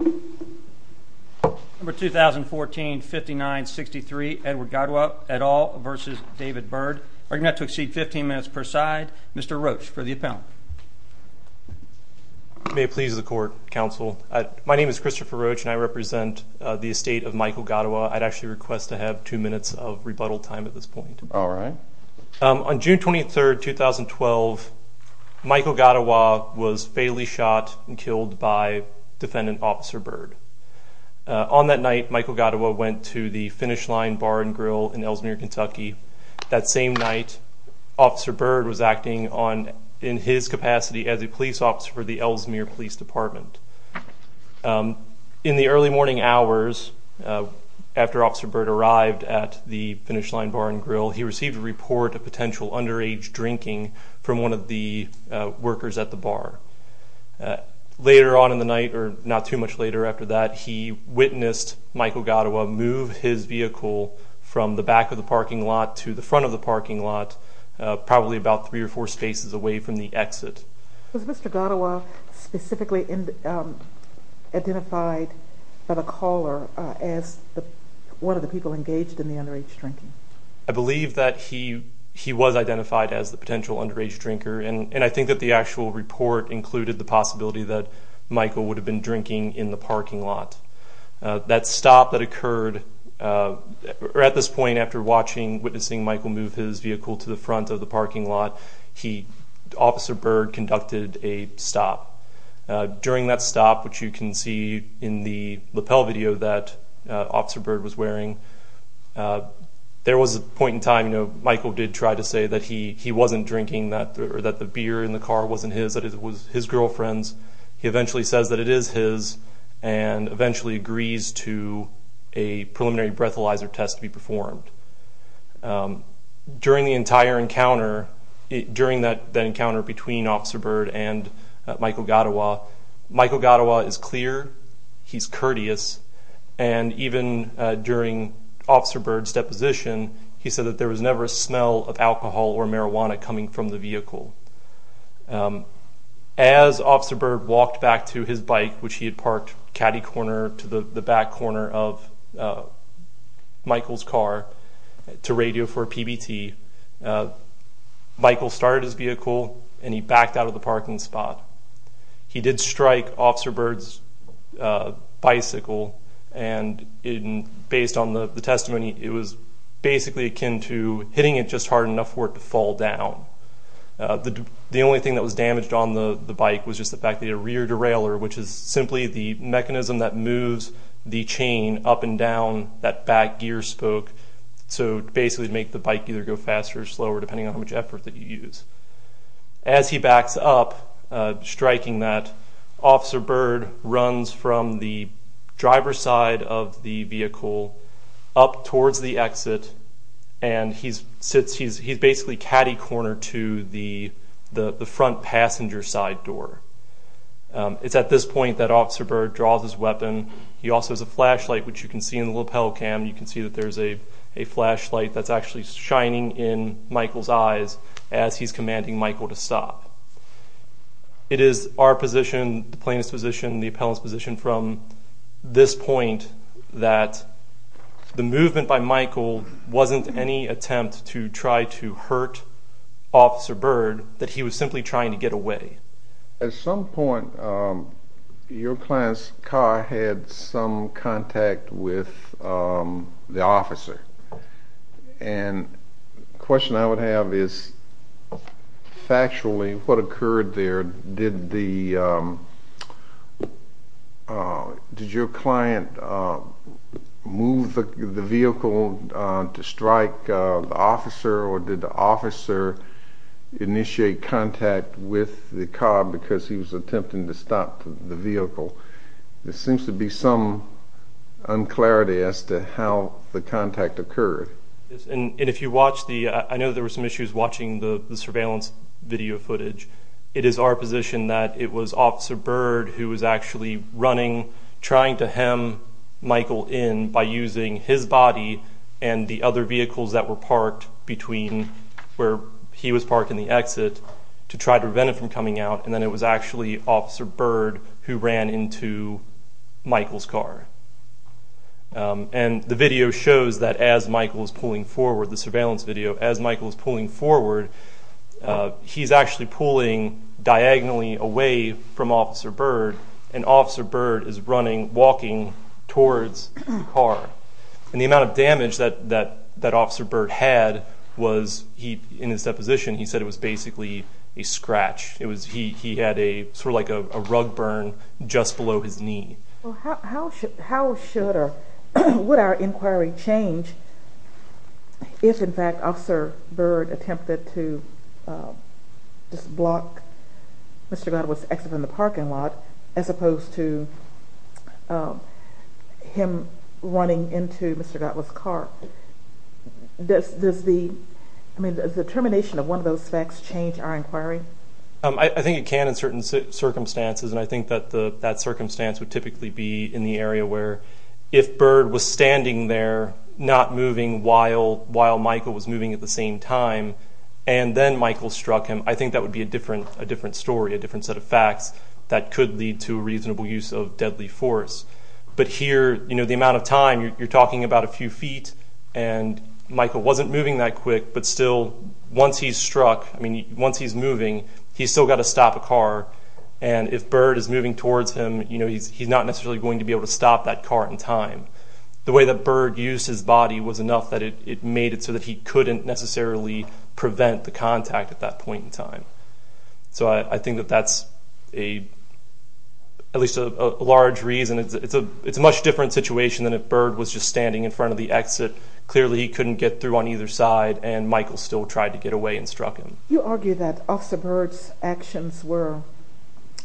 May it please the court, counsel. My name is Christopher Roach and I represent the estate of Michael Godawa. I'd actually request to have two minutes of rebuttal time at this point. On June 23, 2012, Michael Godawa was fatally shot and killed by defendant officers. On that night, Michael Godawa went to the Finish Line Bar and Grill in Ellesmere, Kentucky. That same night, Officer Byrd was acting in his capacity as a police officer for the Ellesmere Police Department. In the early morning hours after Officer Byrd arrived at the Finish Line Bar and Grill, he received a report of potential underage drinking from one of the workers at the bar. Later on in the night, or not too much later after that, he witnessed Michael Godawa move his vehicle from the back of the parking lot to the front of the parking lot, probably about three or four spaces away from the exit. Was Mr. Godawa specifically identified by the caller as one of the people engaged in the underage drinking? I believe that he was identified as the potential underage drinker, and I think that the actual report included the possibility that Michael would have been drinking in the parking lot. That stop that occurred at this point after witnessing Michael move his vehicle to the front of the parking lot, Officer Byrd conducted a stop. During that stop, which you can see in the lapel video that Officer Byrd was wearing, there was a point in time Michael did try to say that he wasn't drinking, that the beer in the car wasn't his, that it was his girlfriend's. He eventually says that it is his and eventually agrees to a preliminary breathalyzer test to be performed. During the entire encounter, during that encounter between Officer Byrd and Michael Godawa, Michael Godawa is clear, he's courteous, and even during Officer Byrd's deposition, he said that there was never a smell of alcohol or marijuana coming from the vehicle. As Officer Byrd walked back to his bike, which he had parked caddy corner to the back corner of Michael's car to radio for a PBT, Michael started his vehicle and he backed out of the parking spot. He did strike Officer Byrd's bicycle, and based on the testimony, it was basically akin to hitting it just hard enough for it to fall down. The only thing that was damaged on the bike was just the fact that the rear derailleur, which is simply the mechanism that moves the chain up and down that back gear spoke, so basically to make the bike either go faster or slower depending on how much effort that you use. As he backs up, striking that, Officer Byrd runs from the driver's side of the vehicle up towards the exit, and he's basically caddy cornered to the front passenger side door. It's at this point that Officer Byrd draws his weapon. He also has a flashlight, which you can see in the lapel cam, you can see that there's a flashlight that's actually shining in Michael's eyes as he's commanding Michael to stop. It is our position, the plaintiff's position, the appellant's position from this point that the movement by Michael wasn't any attempt to try to hurt Officer Byrd, that he was simply trying to get away. At some point, your client's car had some contact with the officer, and the question I would have is factually, what occurred there? Did your client move the vehicle to strike the officer, or did the officer initiate contact with the car because he was attempting to stop the vehicle? There seems to be some unclarity as to how the contact occurred. I know there were some issues watching the surveillance video footage. It is our position that it was Officer Byrd who was actually running, trying to hem Michael in by using his body and the other vehicles that were parked between where he was parking the exit to try to prevent him from coming out, and then it was actually Officer Byrd who ran into Michael's car. And the video shows that as Michael's pulling forward, the surveillance video, as Michael's pulling forward, he's actually pulling diagonally away from Officer Byrd, and Officer Byrd is running, walking towards the car. And the amount of damage that Officer Byrd had was, in his deposition, he said it was basically a scratch. He had sort of like a rug burn just below his knee. Well, how should or would our inquiry change if, in fact, Officer Byrd attempted to just block Mr. Gottwas' exit from the parking lot, as opposed to him running into Mr. Gottwas' car? Does the termination of one of those facts change our inquiry? I think it can in certain circumstances, and I think that that circumstance would typically be in the area where if Byrd was standing there not moving while Michael was moving at the same time, and then Michael struck him, I think that would be a different story, a different set of facts that could lead to a reasonable use of deadly force. But here, the amount of time, you're talking about a few feet, and Michael wasn't moving that quick, but still, once he's struck, I mean, once he's moving, he's still got to stop a car. And if Byrd is moving towards him, he's not necessarily going to be able to stop that car in time. The way that Byrd used his body was enough that it made it so that he couldn't necessarily prevent the contact at that point in time. So I think that that's at least a large reason. It's a much different situation than if Byrd was just standing in front of the exit. Clearly, he couldn't get through on either side, and Michael still tried to get away and struck him. You argue that Officer Byrd's actions were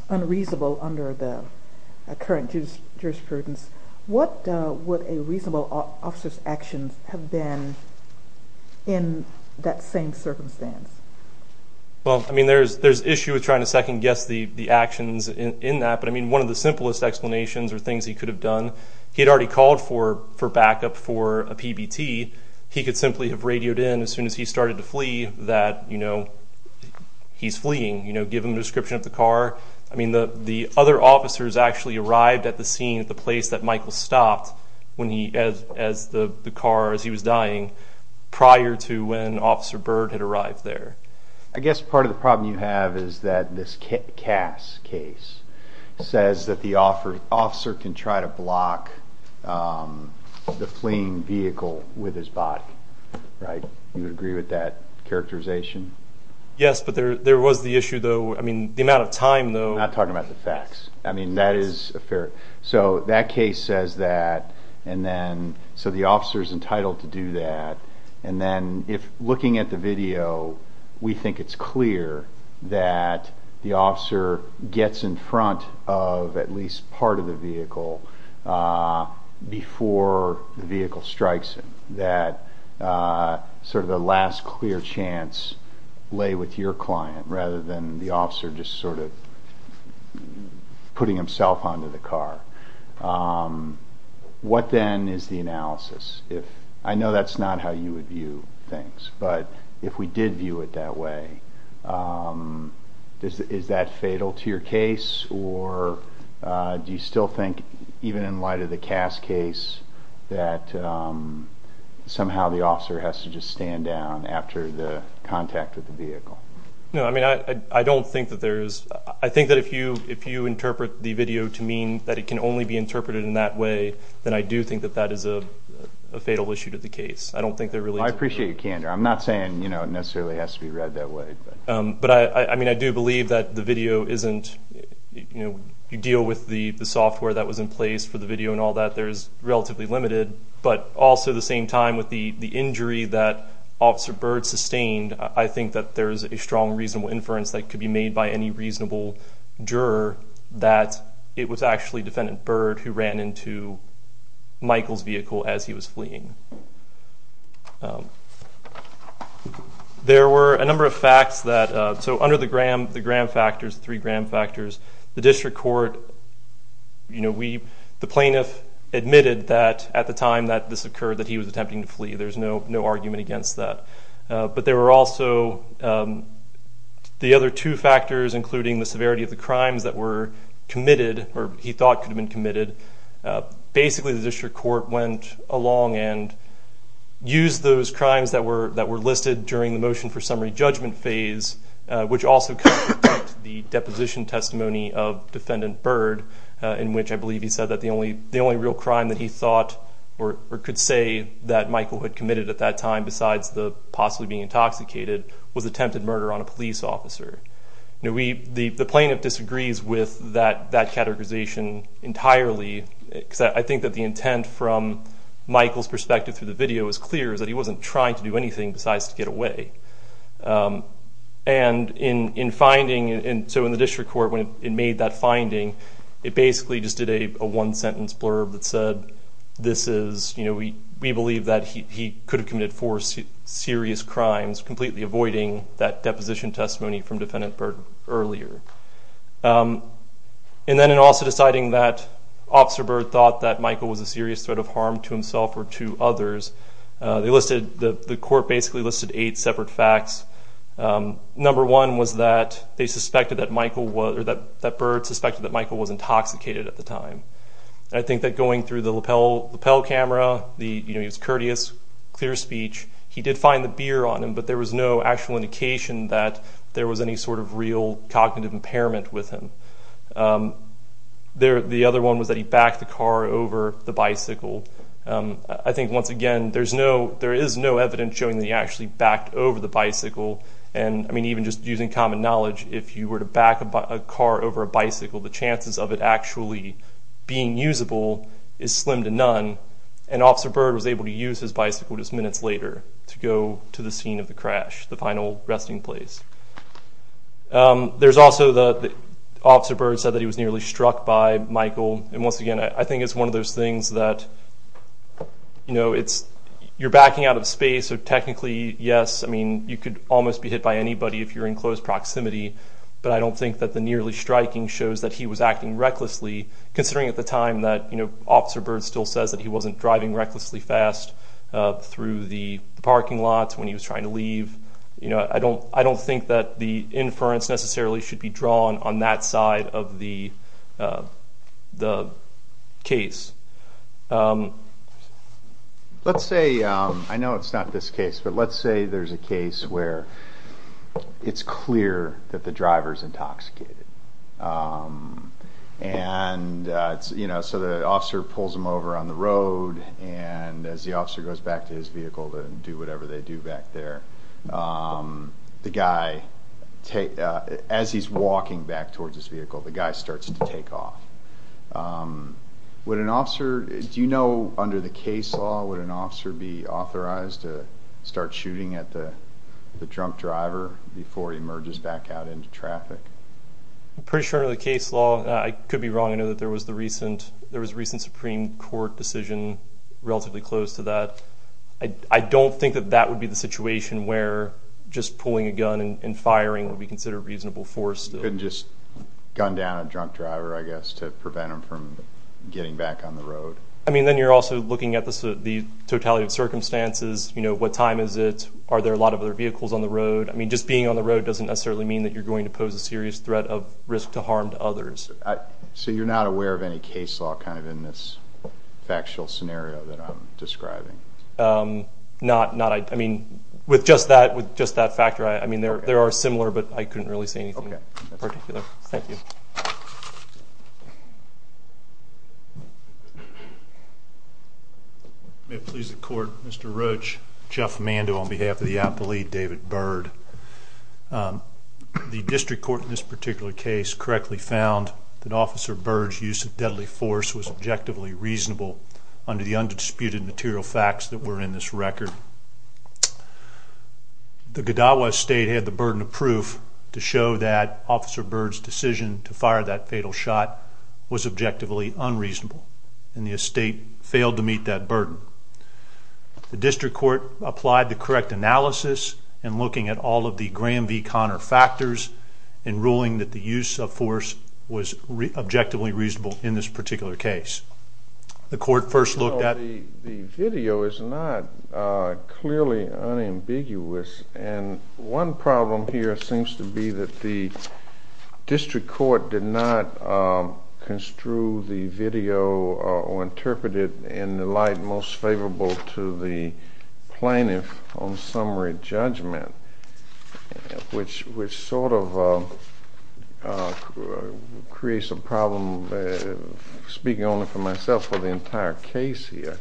unreasonable under the current jurisprudence. What would a reasonable officer's actions have been in that same circumstance? Well, I mean, there's issue with trying to second-guess the actions in that. But, I mean, one of the simplest explanations or things he could have done, he had already called for backup for a PBT. He could simply have radioed in as soon as he started to flee that, you know, he's fleeing. You know, give him a description of the car. I mean, the other officers actually arrived at the scene at the place that Michael stopped as the car, as he was dying, prior to when Officer Byrd had arrived there. I guess part of the problem you have is that this Cass case says that the officer can try to block the fleeing vehicle with his body, right? Do you agree with that characterization? Yes, but there was the issue, though. I mean, the amount of time, though. I'm not talking about the facts. I mean, that is a fair – so that case says that, and then – so the officer's entitled to do that. And then, looking at the video, we think it's clear that the officer gets in front of at least part of the vehicle before the vehicle strikes him. So you agree that sort of the last clear chance lay with your client rather than the officer just sort of putting himself onto the car. What then is the analysis? I know that's not how you would view things, but if we did view it that way, is that fatal to your case, or do you still think, even in light of the Cass case, that somehow the officer has to just stand down after the contact with the vehicle? No, I mean, I don't think that there is – I think that if you interpret the video to mean that it can only be interpreted in that way, then I do think that that is a fatal issue to the case. I don't think there really is a – I appreciate your candor. I'm not saying it necessarily has to be read that way. But, I mean, I do believe that the video isn't – you deal with the software that was in place for the video and all that. There is relatively limited, but also at the same time, with the injury that Officer Byrd sustained, I think that there is a strong reasonable inference that could be made by any reasonable juror that it was actually Defendant Byrd who ran into Michael's vehicle as he was fleeing. There were a number of facts that – so under the Graham factors, the three Graham factors, the district court – you know, we – the plaintiff admitted that at the time that this occurred that he was attempting to flee. There's no argument against that. But there were also the other two factors, including the severity of the crimes that were committed or he thought could have been committed. Basically, the district court went along and used those crimes that were listed during the motion for summary judgment phase, which also contradict the deposition testimony of Defendant Byrd, in which I believe he said that the only real crime that he thought or could say that Michael had committed at that time besides the possibly being intoxicated was attempted murder on a police officer. You know, we – the plaintiff disagrees with that categorization entirely because I think that the intent from Michael's perspective through the video is clear, is that he wasn't trying to do anything besides to get away. And in finding – so in the district court, when it made that finding, it basically just did a one-sentence blurb that said, this is – you know, we believe that he could have committed four serious crimes, completely avoiding that deposition testimony from Defendant Byrd earlier. And then in also deciding that Officer Byrd thought that Michael was a serious threat of harm to himself or to others, they listed – the court basically listed eight separate facts. Number one was that they suspected that Michael was – or that Byrd suspected that Michael was intoxicated at the time. And I think that going through the lapel camera, you know, he was courteous, clear speech. He did find the beer on him, but there was no actual indication that there was any sort of real cognitive impairment with him. The other one was that he backed the car over the bicycle. I think, once again, there is no evidence showing that he actually backed over the bicycle. And, I mean, even just using common knowledge, if you were to back a car over a bicycle, the chances of it actually being usable is slim to none. And Officer Byrd was able to use his bicycle just minutes later to go to the scene of the crash, the final resting place. There's also the – Officer Byrd said that he was nearly struck by Michael. And, once again, I think it's one of those things that, you know, it's – you're backing out of space, so technically, yes, I mean, you could almost be hit by anybody if you're in close proximity. But I don't think that the nearly striking shows that he was acting recklessly, considering at the time that, you know, Officer Byrd still says that he wasn't driving recklessly fast through the parking lot when he was trying to leave. You know, I don't think that the inference necessarily should be drawn on that side of the case. Let's say – I know it's not this case, but let's say there's a case where it's clear that the driver's intoxicated. And, you know, so the officer pulls him over on the road, and as the officer goes back to his vehicle to do whatever they do back there, the guy – as he's walking back towards his vehicle, the guy starts to take off. Would an officer – do you know, under the case law, would an officer be authorized to start shooting at the drunk driver before he emerges back out into traffic? I'm pretty sure under the case law – I could be wrong. I know that there was the recent – there was a recent Supreme Court decision relatively close to that. I don't think that that would be the situation where just pulling a gun and firing would be considered reasonable force. You couldn't just gun down a drunk driver, I guess, to prevent him from getting back on the road. I mean, then you're also looking at the totality of circumstances. You know, what time is it? Are there a lot of other vehicles on the road? I mean, just being on the road doesn't necessarily mean that you're going to pose a serious threat of risk to harm to others. So you're not aware of any case law kind of in this factual scenario that I'm describing? Not – I mean, with just that – with just that factor, I mean, there are similar, but I couldn't really say anything in particular. Okay. Thank you. May it please the Court, Mr. Roach, Jeff Mando on behalf of the appellee, David Bird. The district court in this particular case correctly found that Officer Bird's use of deadly force was objectively reasonable under the undisputed material facts that were in this record. The Godawa estate had the burden of proof to show that Officer Bird's decision to fire that fatal shot was objectively unreasonable, and the estate failed to meet that burden. The district court applied the correct analysis in looking at all of the Graham v. Conner factors in ruling that the use of force was objectively reasonable in this particular case. The court first looked at – You know, the video is not clearly unambiguous, and one problem here seems to be that the district court did not construe the video or interpret it in the light most favorable to the plaintiff on summary judgment, which sort of creates a problem, speaking only for myself, for the entire case here.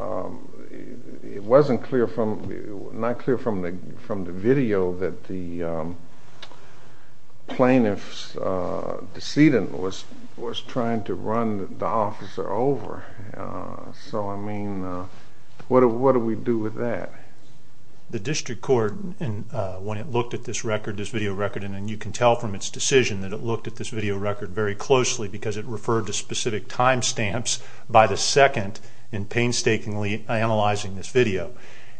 It wasn't clear from – not clear from the video that the plaintiff's decedent was trying to run the officer over. So, I mean, what do we do with that? The district court, when it looked at this record, this video record, and you can tell from its decision that it looked at this video record very closely because it referred to specific time stamps by the second in painstakingly analyzing this video,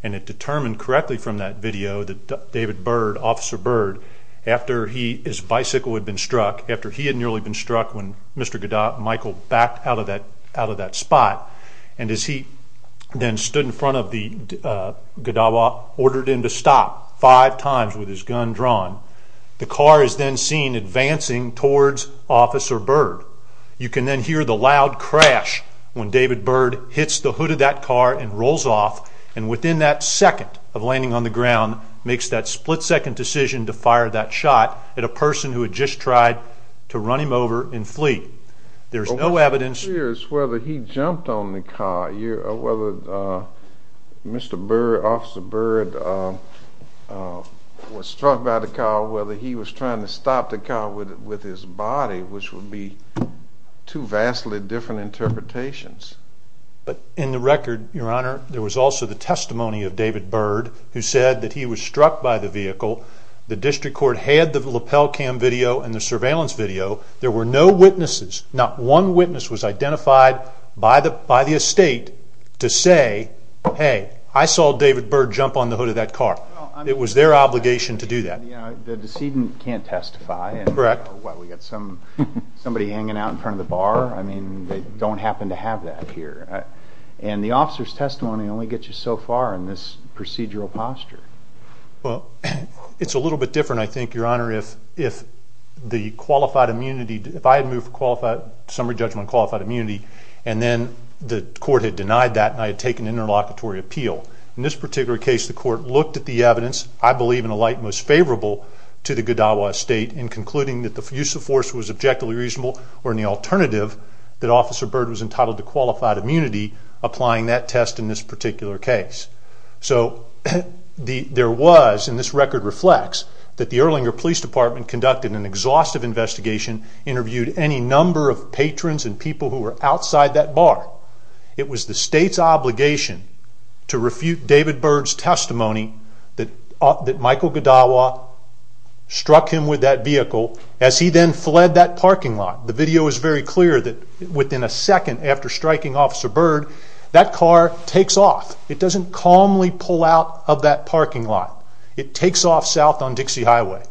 and it determined correctly from that video that David Bird, Officer Bird, after his bicycle had been struck, after he had nearly been struck when Mr. Michael backed out of that spot, and as he then stood in front of the – Godawa ordered him to stop five times with his gun drawn. The car is then seen advancing towards Officer Bird. You can then hear the loud crash when David Bird hits the hood of that car and rolls off, and within that second of landing on the ground makes that split-second decision to fire that shot at a person who had just tried to run him over and flee. There's no evidence – I'm curious whether he jumped on the car or whether Mr. Bird, Officer Bird, was struck by the car or whether he was trying to stop the car with his body, which would be two vastly different interpretations. In the record, Your Honor, there was also the testimony of David Bird who said that he was struck by the vehicle. The district court had the lapel cam video and the surveillance video. There were no witnesses. Not one witness was identified by the estate to say, Hey, I saw David Bird jump on the hood of that car. It was their obligation to do that. The decedent can't testify. Correct. We've got somebody hanging out in front of the bar. They don't happen to have that here. The officer's testimony only gets you so far in this procedural posture. It's a little bit different, I think, Your Honor. If I had moved for summary judgment on qualified immunity and then the court had denied that and I had taken interlocutory appeal, in this particular case the court looked at the evidence, I believe in a light most favorable to the Godawa estate, in concluding that the use of force was objectively reasonable or in the alternative that Officer Bird was entitled to qualified immunity, applying that test in this particular case. So there was, and this record reflects, that the Erlanger Police Department conducted an exhaustive investigation, interviewed any number of patrons and people who were outside that bar. It was the state's obligation to refute David Bird's testimony that Michael Godawa struck him with that vehicle as he then fled that parking lot. The video is very clear that within a second after striking Officer Bird, that car takes off. It doesn't calmly pull out of that parking lot. It takes off south on Dixie Highway.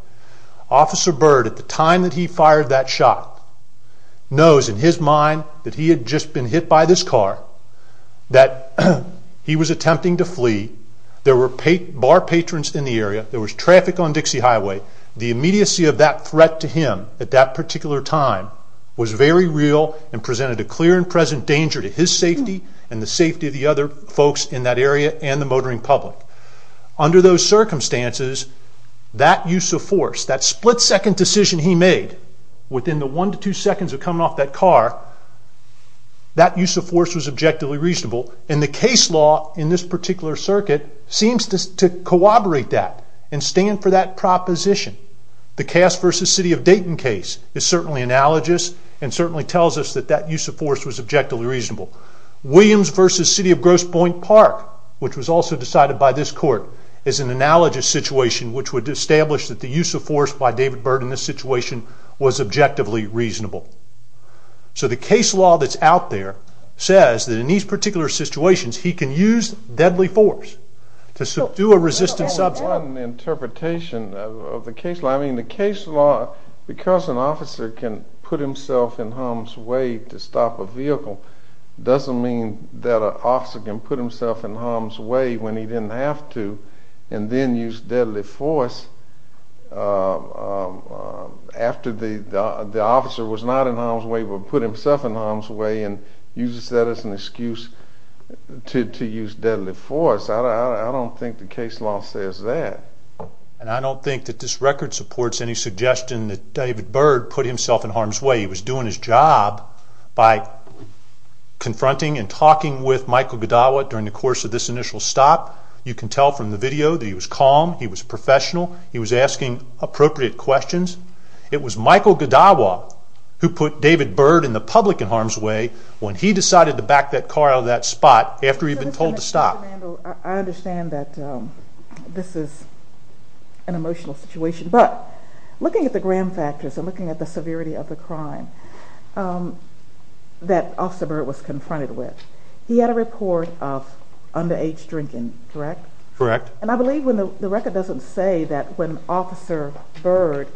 Officer Bird, at the time that he fired that shot, knows in his mind that he had just been hit by this car, that he was attempting to flee, there were bar patrons in the area, there was traffic on Dixie Highway. The immediacy of that threat to him at that particular time was very real and presented a clear and present danger to his safety and the safety of the other folks in that area and the motoring public. Under those circumstances, that use of force, that split-second decision he made, within the one to two seconds of coming off that car, that use of force was objectively reasonable. And the case law in this particular circuit seems to corroborate that and stand for that proposition. The Cass v. City of Dayton case is certainly analogous and certainly tells us that that use of force was objectively reasonable. Williams v. City of Grosse Pointe Park, which was also decided by this court, is an analogous situation which would establish that the use of force by David Bird in this situation was objectively reasonable. So the case law that's out there says that in these particular situations he can use deadly force to subdue a resistant subject. There's only one interpretation of the case law. The case law, because an officer can put himself in harm's way to stop a vehicle, doesn't mean that an officer can put himself in harm's way when he didn't have to and then use deadly force after the officer was not in harm's way but put himself in harm's way and uses that as an excuse to use deadly force. I don't think the case law says that. And I don't think that this record supports any suggestion that David Bird put himself in harm's way. He was doing his job by confronting and talking with Michael Gaddawa during the course of this initial stop. You can tell from the video that he was calm, he was professional, he was asking appropriate questions. It was Michael Gaddawa who put David Bird in the public in harm's way when he decided to back that car out of that spot after he'd been told to stop. I understand that this is an emotional situation, but looking at the gram factors and looking at the severity of the crime that Officer Bird was confronted with, he had a report of underage drinking, correct? Correct. And I believe the record doesn't say that when Officer Bird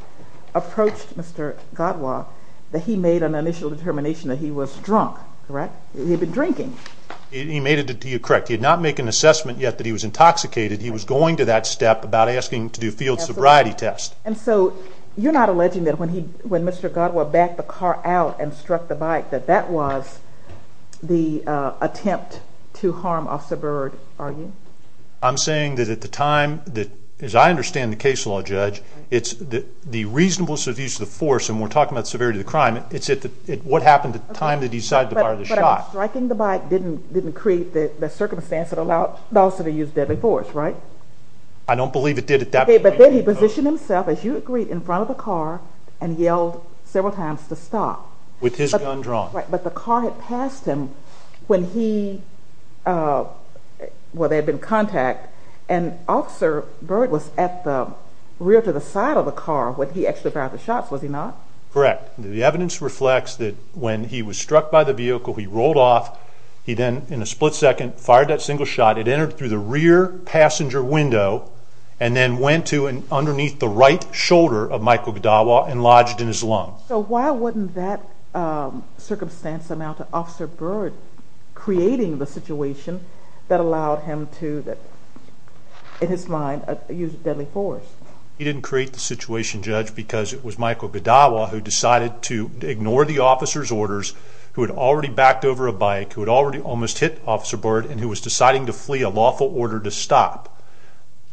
approached Mr. Gaddawa that he made an initial determination that he was drunk, correct? He had been drinking. He made it correct. He had not made an assessment yet that he was intoxicated. He was going to that step about asking to do a field sobriety test. And so you're not alleging that when Mr. Gaddawa backed the car out and struck the bike that that was the attempt to harm Officer Bird, are you? I'm saying that at the time, as I understand the case law, Judge, it's the reasonableness of use of the force, and we're talking about the severity of the crime, it's what happened at the time they decided to fire the shot. But striking the bike didn't create the circumstance that allowed the officer to use deadly force, right? I don't believe it did at that point. Okay, but then he positioned himself, as you agreed, in front of the car and yelled several times to stop. With his gun drawn. Right, but the car had passed him when they had been in contact, and Officer Bird was at the rear to the side of the car when he actually fired the shots, was he not? Correct. The evidence reflects that when he was struck by the vehicle, he rolled off, he then, in a split second, fired that single shot. It entered through the rear passenger window and then went to and underneath the right shoulder of Michael Gaddawa and lodged in his lung. So why wouldn't that circumstance amount to Officer Bird creating the situation that allowed him to, in his mind, use deadly force? He didn't create the situation, Judge, because it was Michael Gaddawa who decided to ignore the officer's orders, who had already backed over a bike, who had already almost hit Officer Bird, and who was deciding to flee a lawful order to stop.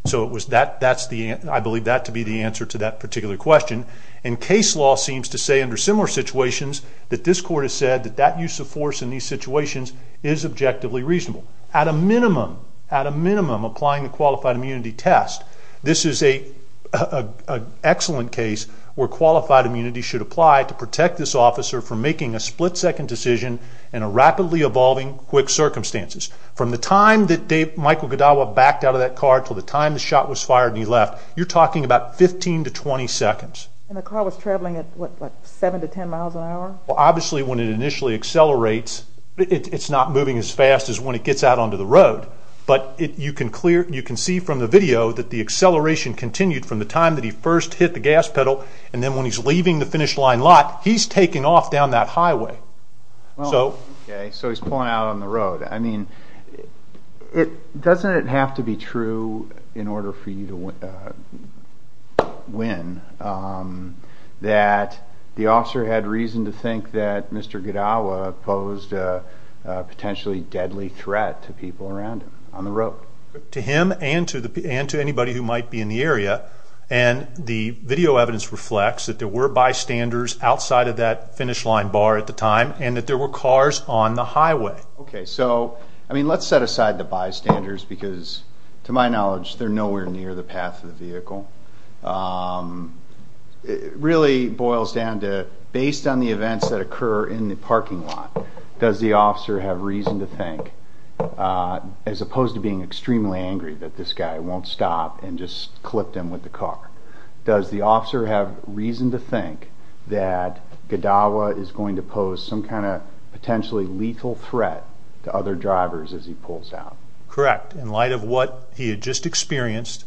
So I believe that to be the answer to that particular question. And case law seems to say, under similar situations, that this court has said that that use of force in these situations is objectively reasonable. At a minimum, at a minimum, applying the Qualified Immunity Test, this is an excellent case where Qualified Immunity should apply to protect this officer from making a split-second decision in a rapidly evolving, quick circumstances. From the time that Michael Gaddawa backed out of that car until the time the shot was fired and he left, you're talking about 15 to 20 seconds. And the car was traveling at, what, 7 to 10 miles an hour? Well, obviously, when it initially accelerates, it's not moving as fast as when it gets out onto the road. But you can see from the video that the acceleration continued from the time that he first hit the gas pedal, and then when he's leaving the finish line lot, he's taking off down that highway. Okay, so he's pulling out on the road. I mean, doesn't it have to be true, in order for you to win, that the officer had reason to think that Mr. Gaddawa posed a potentially deadly threat to people around him on the road? To him and to anybody who might be in the area. And the video evidence reflects that there were bystanders outside of that finish line bar at the time and that there were cars on the highway. Okay, so, I mean, let's set aside the bystanders because, to my knowledge, they're nowhere near the path of the vehicle. It really boils down to, based on the events that occur in the parking lot, does the officer have reason to think, as opposed to being extremely angry that this guy won't stop and just clip them with the car, does the officer have reason to think that Gaddawa is going to pose some kind of potentially lethal threat to other drivers as he pulls out? Correct. In fact, in light of what he had just experienced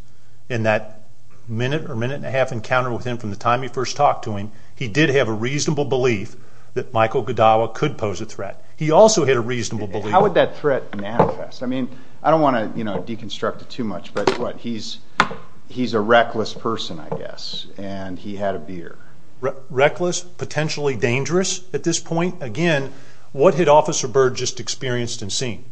in that minute or minute and a half encounter with him from the time he first talked to him, he did have a reasonable belief that Michael Gaddawa could pose a threat. He also had a reasonable belief. How would that threat manifest? I mean, I don't want to, you know, deconstruct it too much, but he's a reckless person, I guess, and he had a beer. Reckless, potentially dangerous at this point? Again, what had Officer Byrd just experienced and seen?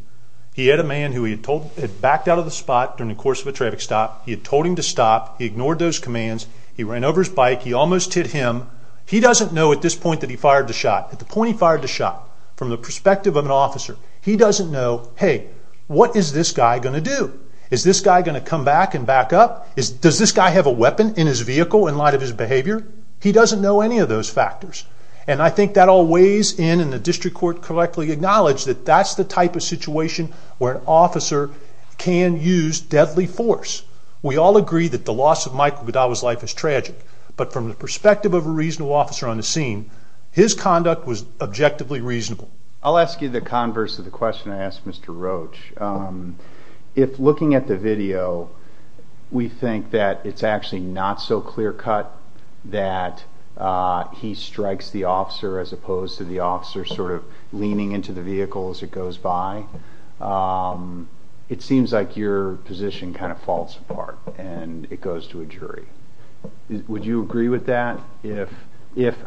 He had a man who he had backed out of the spot during the course of a traffic stop. He had told him to stop. He ignored those commands. He ran over his bike. He almost hit him. He doesn't know at this point that he fired the shot. At the point he fired the shot, from the perspective of an officer, he doesn't know, hey, what is this guy going to do? Is this guy going to come back and back up? Does this guy have a weapon in his vehicle in light of his behavior? He doesn't know any of those factors. And I think that all weighs in, and the district court correctly acknowledged that that's the type of situation where an officer can use deadly force. We all agree that the loss of Michael Godawa's life is tragic, but from the perspective of a reasonable officer on the scene, his conduct was objectively reasonable. I'll ask you the converse of the question I asked Mr. Roach. If looking at the video, we think that it's actually not so clear-cut that he strikes the officer as opposed to the officer sort of leaning into the vehicle as it goes by, it seems like your position kind of falls apart and it goes to a jury. Would you agree with that?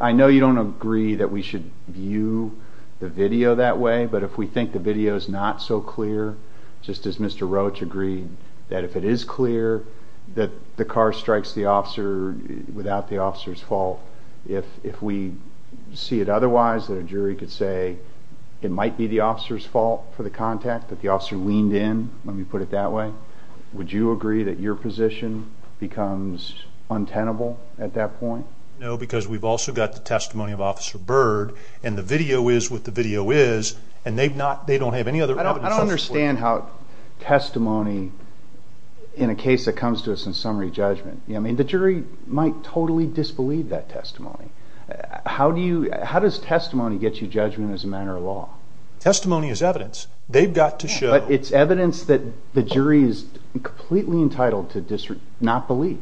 I know you don't agree that we should view the video that way, but if we think the video is not so clear, just as Mr. Roach agreed, that if it is clear that the car strikes the officer without the officer's fault, if we see it otherwise, then a jury could say it might be the officer's fault for the contact, that the officer leaned in when we put it that way. Would you agree that your position becomes untenable at that point? No, because we've also got the testimony of Officer Byrd, and the video is what the video is, and they don't have any other evidence. I don't understand how testimony, in a case that comes to us in summary judgment, the jury might totally disbelieve that testimony. How does testimony get you judgment as a matter of law? Testimony is evidence. They've got to show... But it's evidence that the jury is completely entitled to not believe.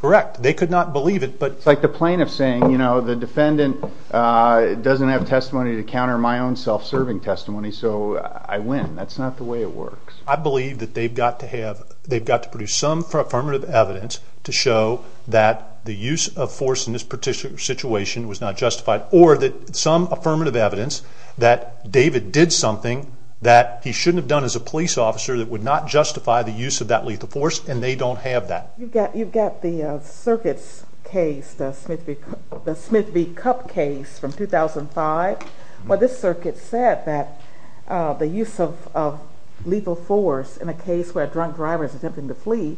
Correct. They could not believe it, but... It's like the plaintiff saying, the defendant doesn't have testimony to counter my own self-serving testimony, so I win. That's not the way it works. I believe that they've got to produce some affirmative evidence to show that the use of force in this particular situation was not justified, or that some affirmative evidence that David did something that he shouldn't have done as a police officer that would not justify the use of that lethal force, and they don't have that. You've got the circuit's case, the Smith v. Cupp case from 2005. Well, this circuit said that the use of lethal force in a case where a drunk driver is attempting to flee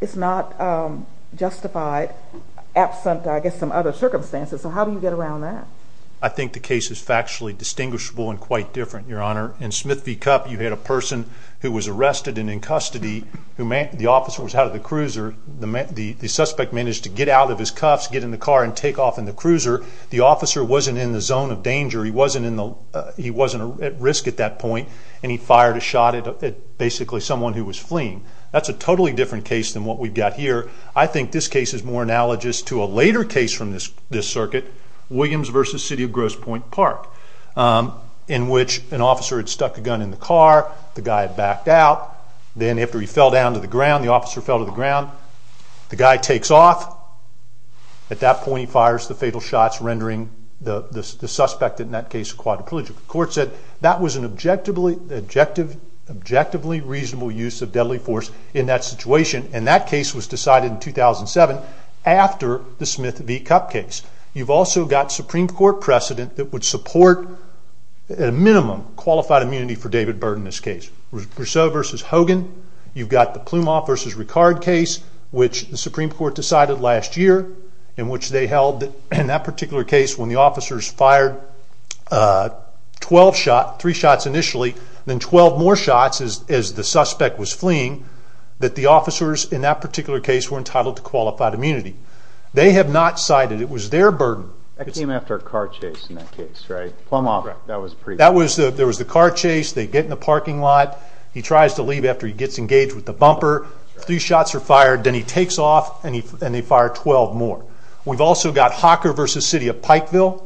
is not justified absent, I guess, some other circumstances. So how do you get around that? I think the case is factually distinguishable and quite different, Your Honor. In Smith v. Cupp, you had a person who was arrested and in custody. The officer was out of the cruiser. The suspect managed to get out of his cuffs, get in the car, and take off in the cruiser. The officer wasn't in the zone of danger. He wasn't at risk at that point, and he fired a shot at basically someone who was fleeing. That's a totally different case than what we've got here. I think this case is more analogous to a later case from this circuit, Williams v. City of Grosse Pointe Park, in which an officer had stuck a gun in the car. The guy backed out. Then after he fell down to the ground, the officer fell to the ground. The guy takes off. At that point, he fires the fatal shots, rendering the suspect in that case quadriplegic. The court said that was an objectively reasonable use of deadly force in that situation, and that case was decided in 2007 after the Smith v. Cupp case. You've also got Supreme Court precedent that would support, at a minimum, qualified immunity for David Byrd in this case. Rousseau v. Hogan. You've got the Plumoff v. Ricard case, which the Supreme Court decided last year, in which they held, in that particular case, when the officers fired three shots initially, then 12 more shots as the suspect was fleeing, that the officers in that particular case were entitled to qualified immunity. They have not cited it. It was their burden. That came after a car chase in that case, right? Plumoff. That was the car chase. They get in the parking lot. He tries to leave after he gets engaged with the bumper. Three shots are fired. Then he takes off, and they fire 12 more. We've also got Hocker v. City of Pikeville,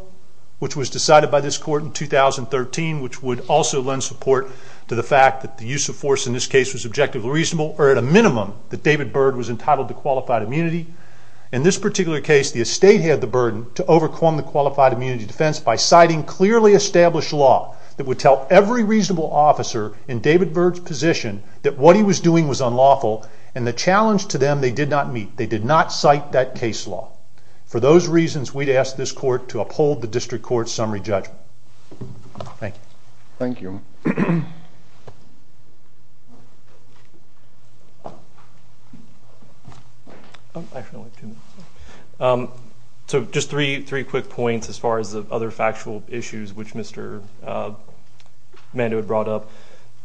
which was decided by this court in 2013, which would also lend support to the fact that the use of force in this case was objectively reasonable, or at a minimum, that David Byrd was entitled to qualified immunity. In this particular case, the estate had the burden to overcome the qualified immunity defense by citing clearly established law that would tell every reasonable officer in David Byrd's position that what he was doing was unlawful, and the challenge to them they did not meet. They did not cite that case law. For those reasons, we'd ask this court to uphold the district court's summary judgment. Thank you. Thank you. So just three quick points as far as the other factual issues which Mr. Mando had brought up.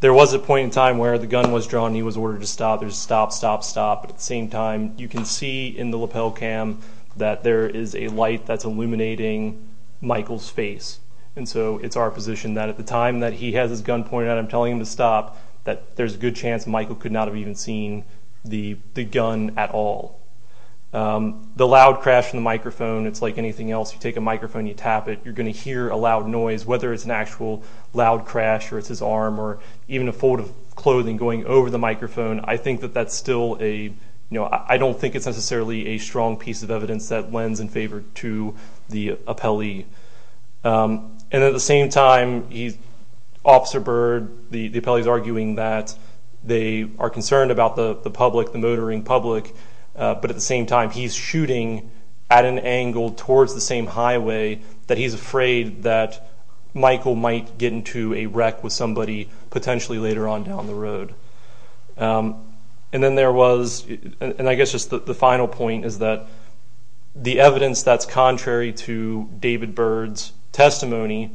There was a point in time where the gun was drawn, and he was ordered to stop. There's stop, stop, stop. At the same time, you can see in the lapel cam that there is a light that's illuminating Michael's face. And so it's our position that at the time that he has his gun pointed out, I'm telling him to stop, that there's a good chance Michael could not have even seen the gun at all. The loud crash in the microphone, it's like anything else. You take a microphone, you tap it, you're going to hear a loud noise, whether it's an actual loud crash or it's his arm or even a fold of clothing going over the microphone. I think that that's still a, you know, I don't think it's necessarily a strong piece of evidence that lends in favor to the appellee. And at the same time, Officer Byrd, the appellee's arguing that they are concerned about the public, the motoring public, but at the same time, he's shooting at an angle towards the same highway that he's afraid that Michael might get into a wreck with somebody potentially later on down the road. And then there was, and I guess just the final point is that the evidence that's contrary to David Byrd's testimony,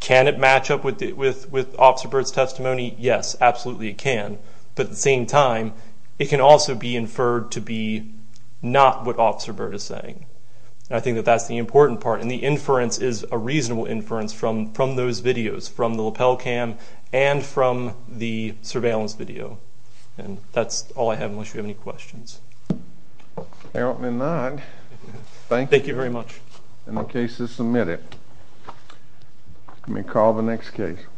can it match up with Officer Byrd's testimony? Yes, absolutely it can. But at the same time, it can also be inferred to be not what Officer Byrd is saying. And I think that that's the important part. And the inference is a reasonable inference from those videos, from the lapel cam and from the surveillance video. And that's all I have, unless you have any questions. Apparently not. Thank you. Thank you very much. And the case is submitted. You may call the next case.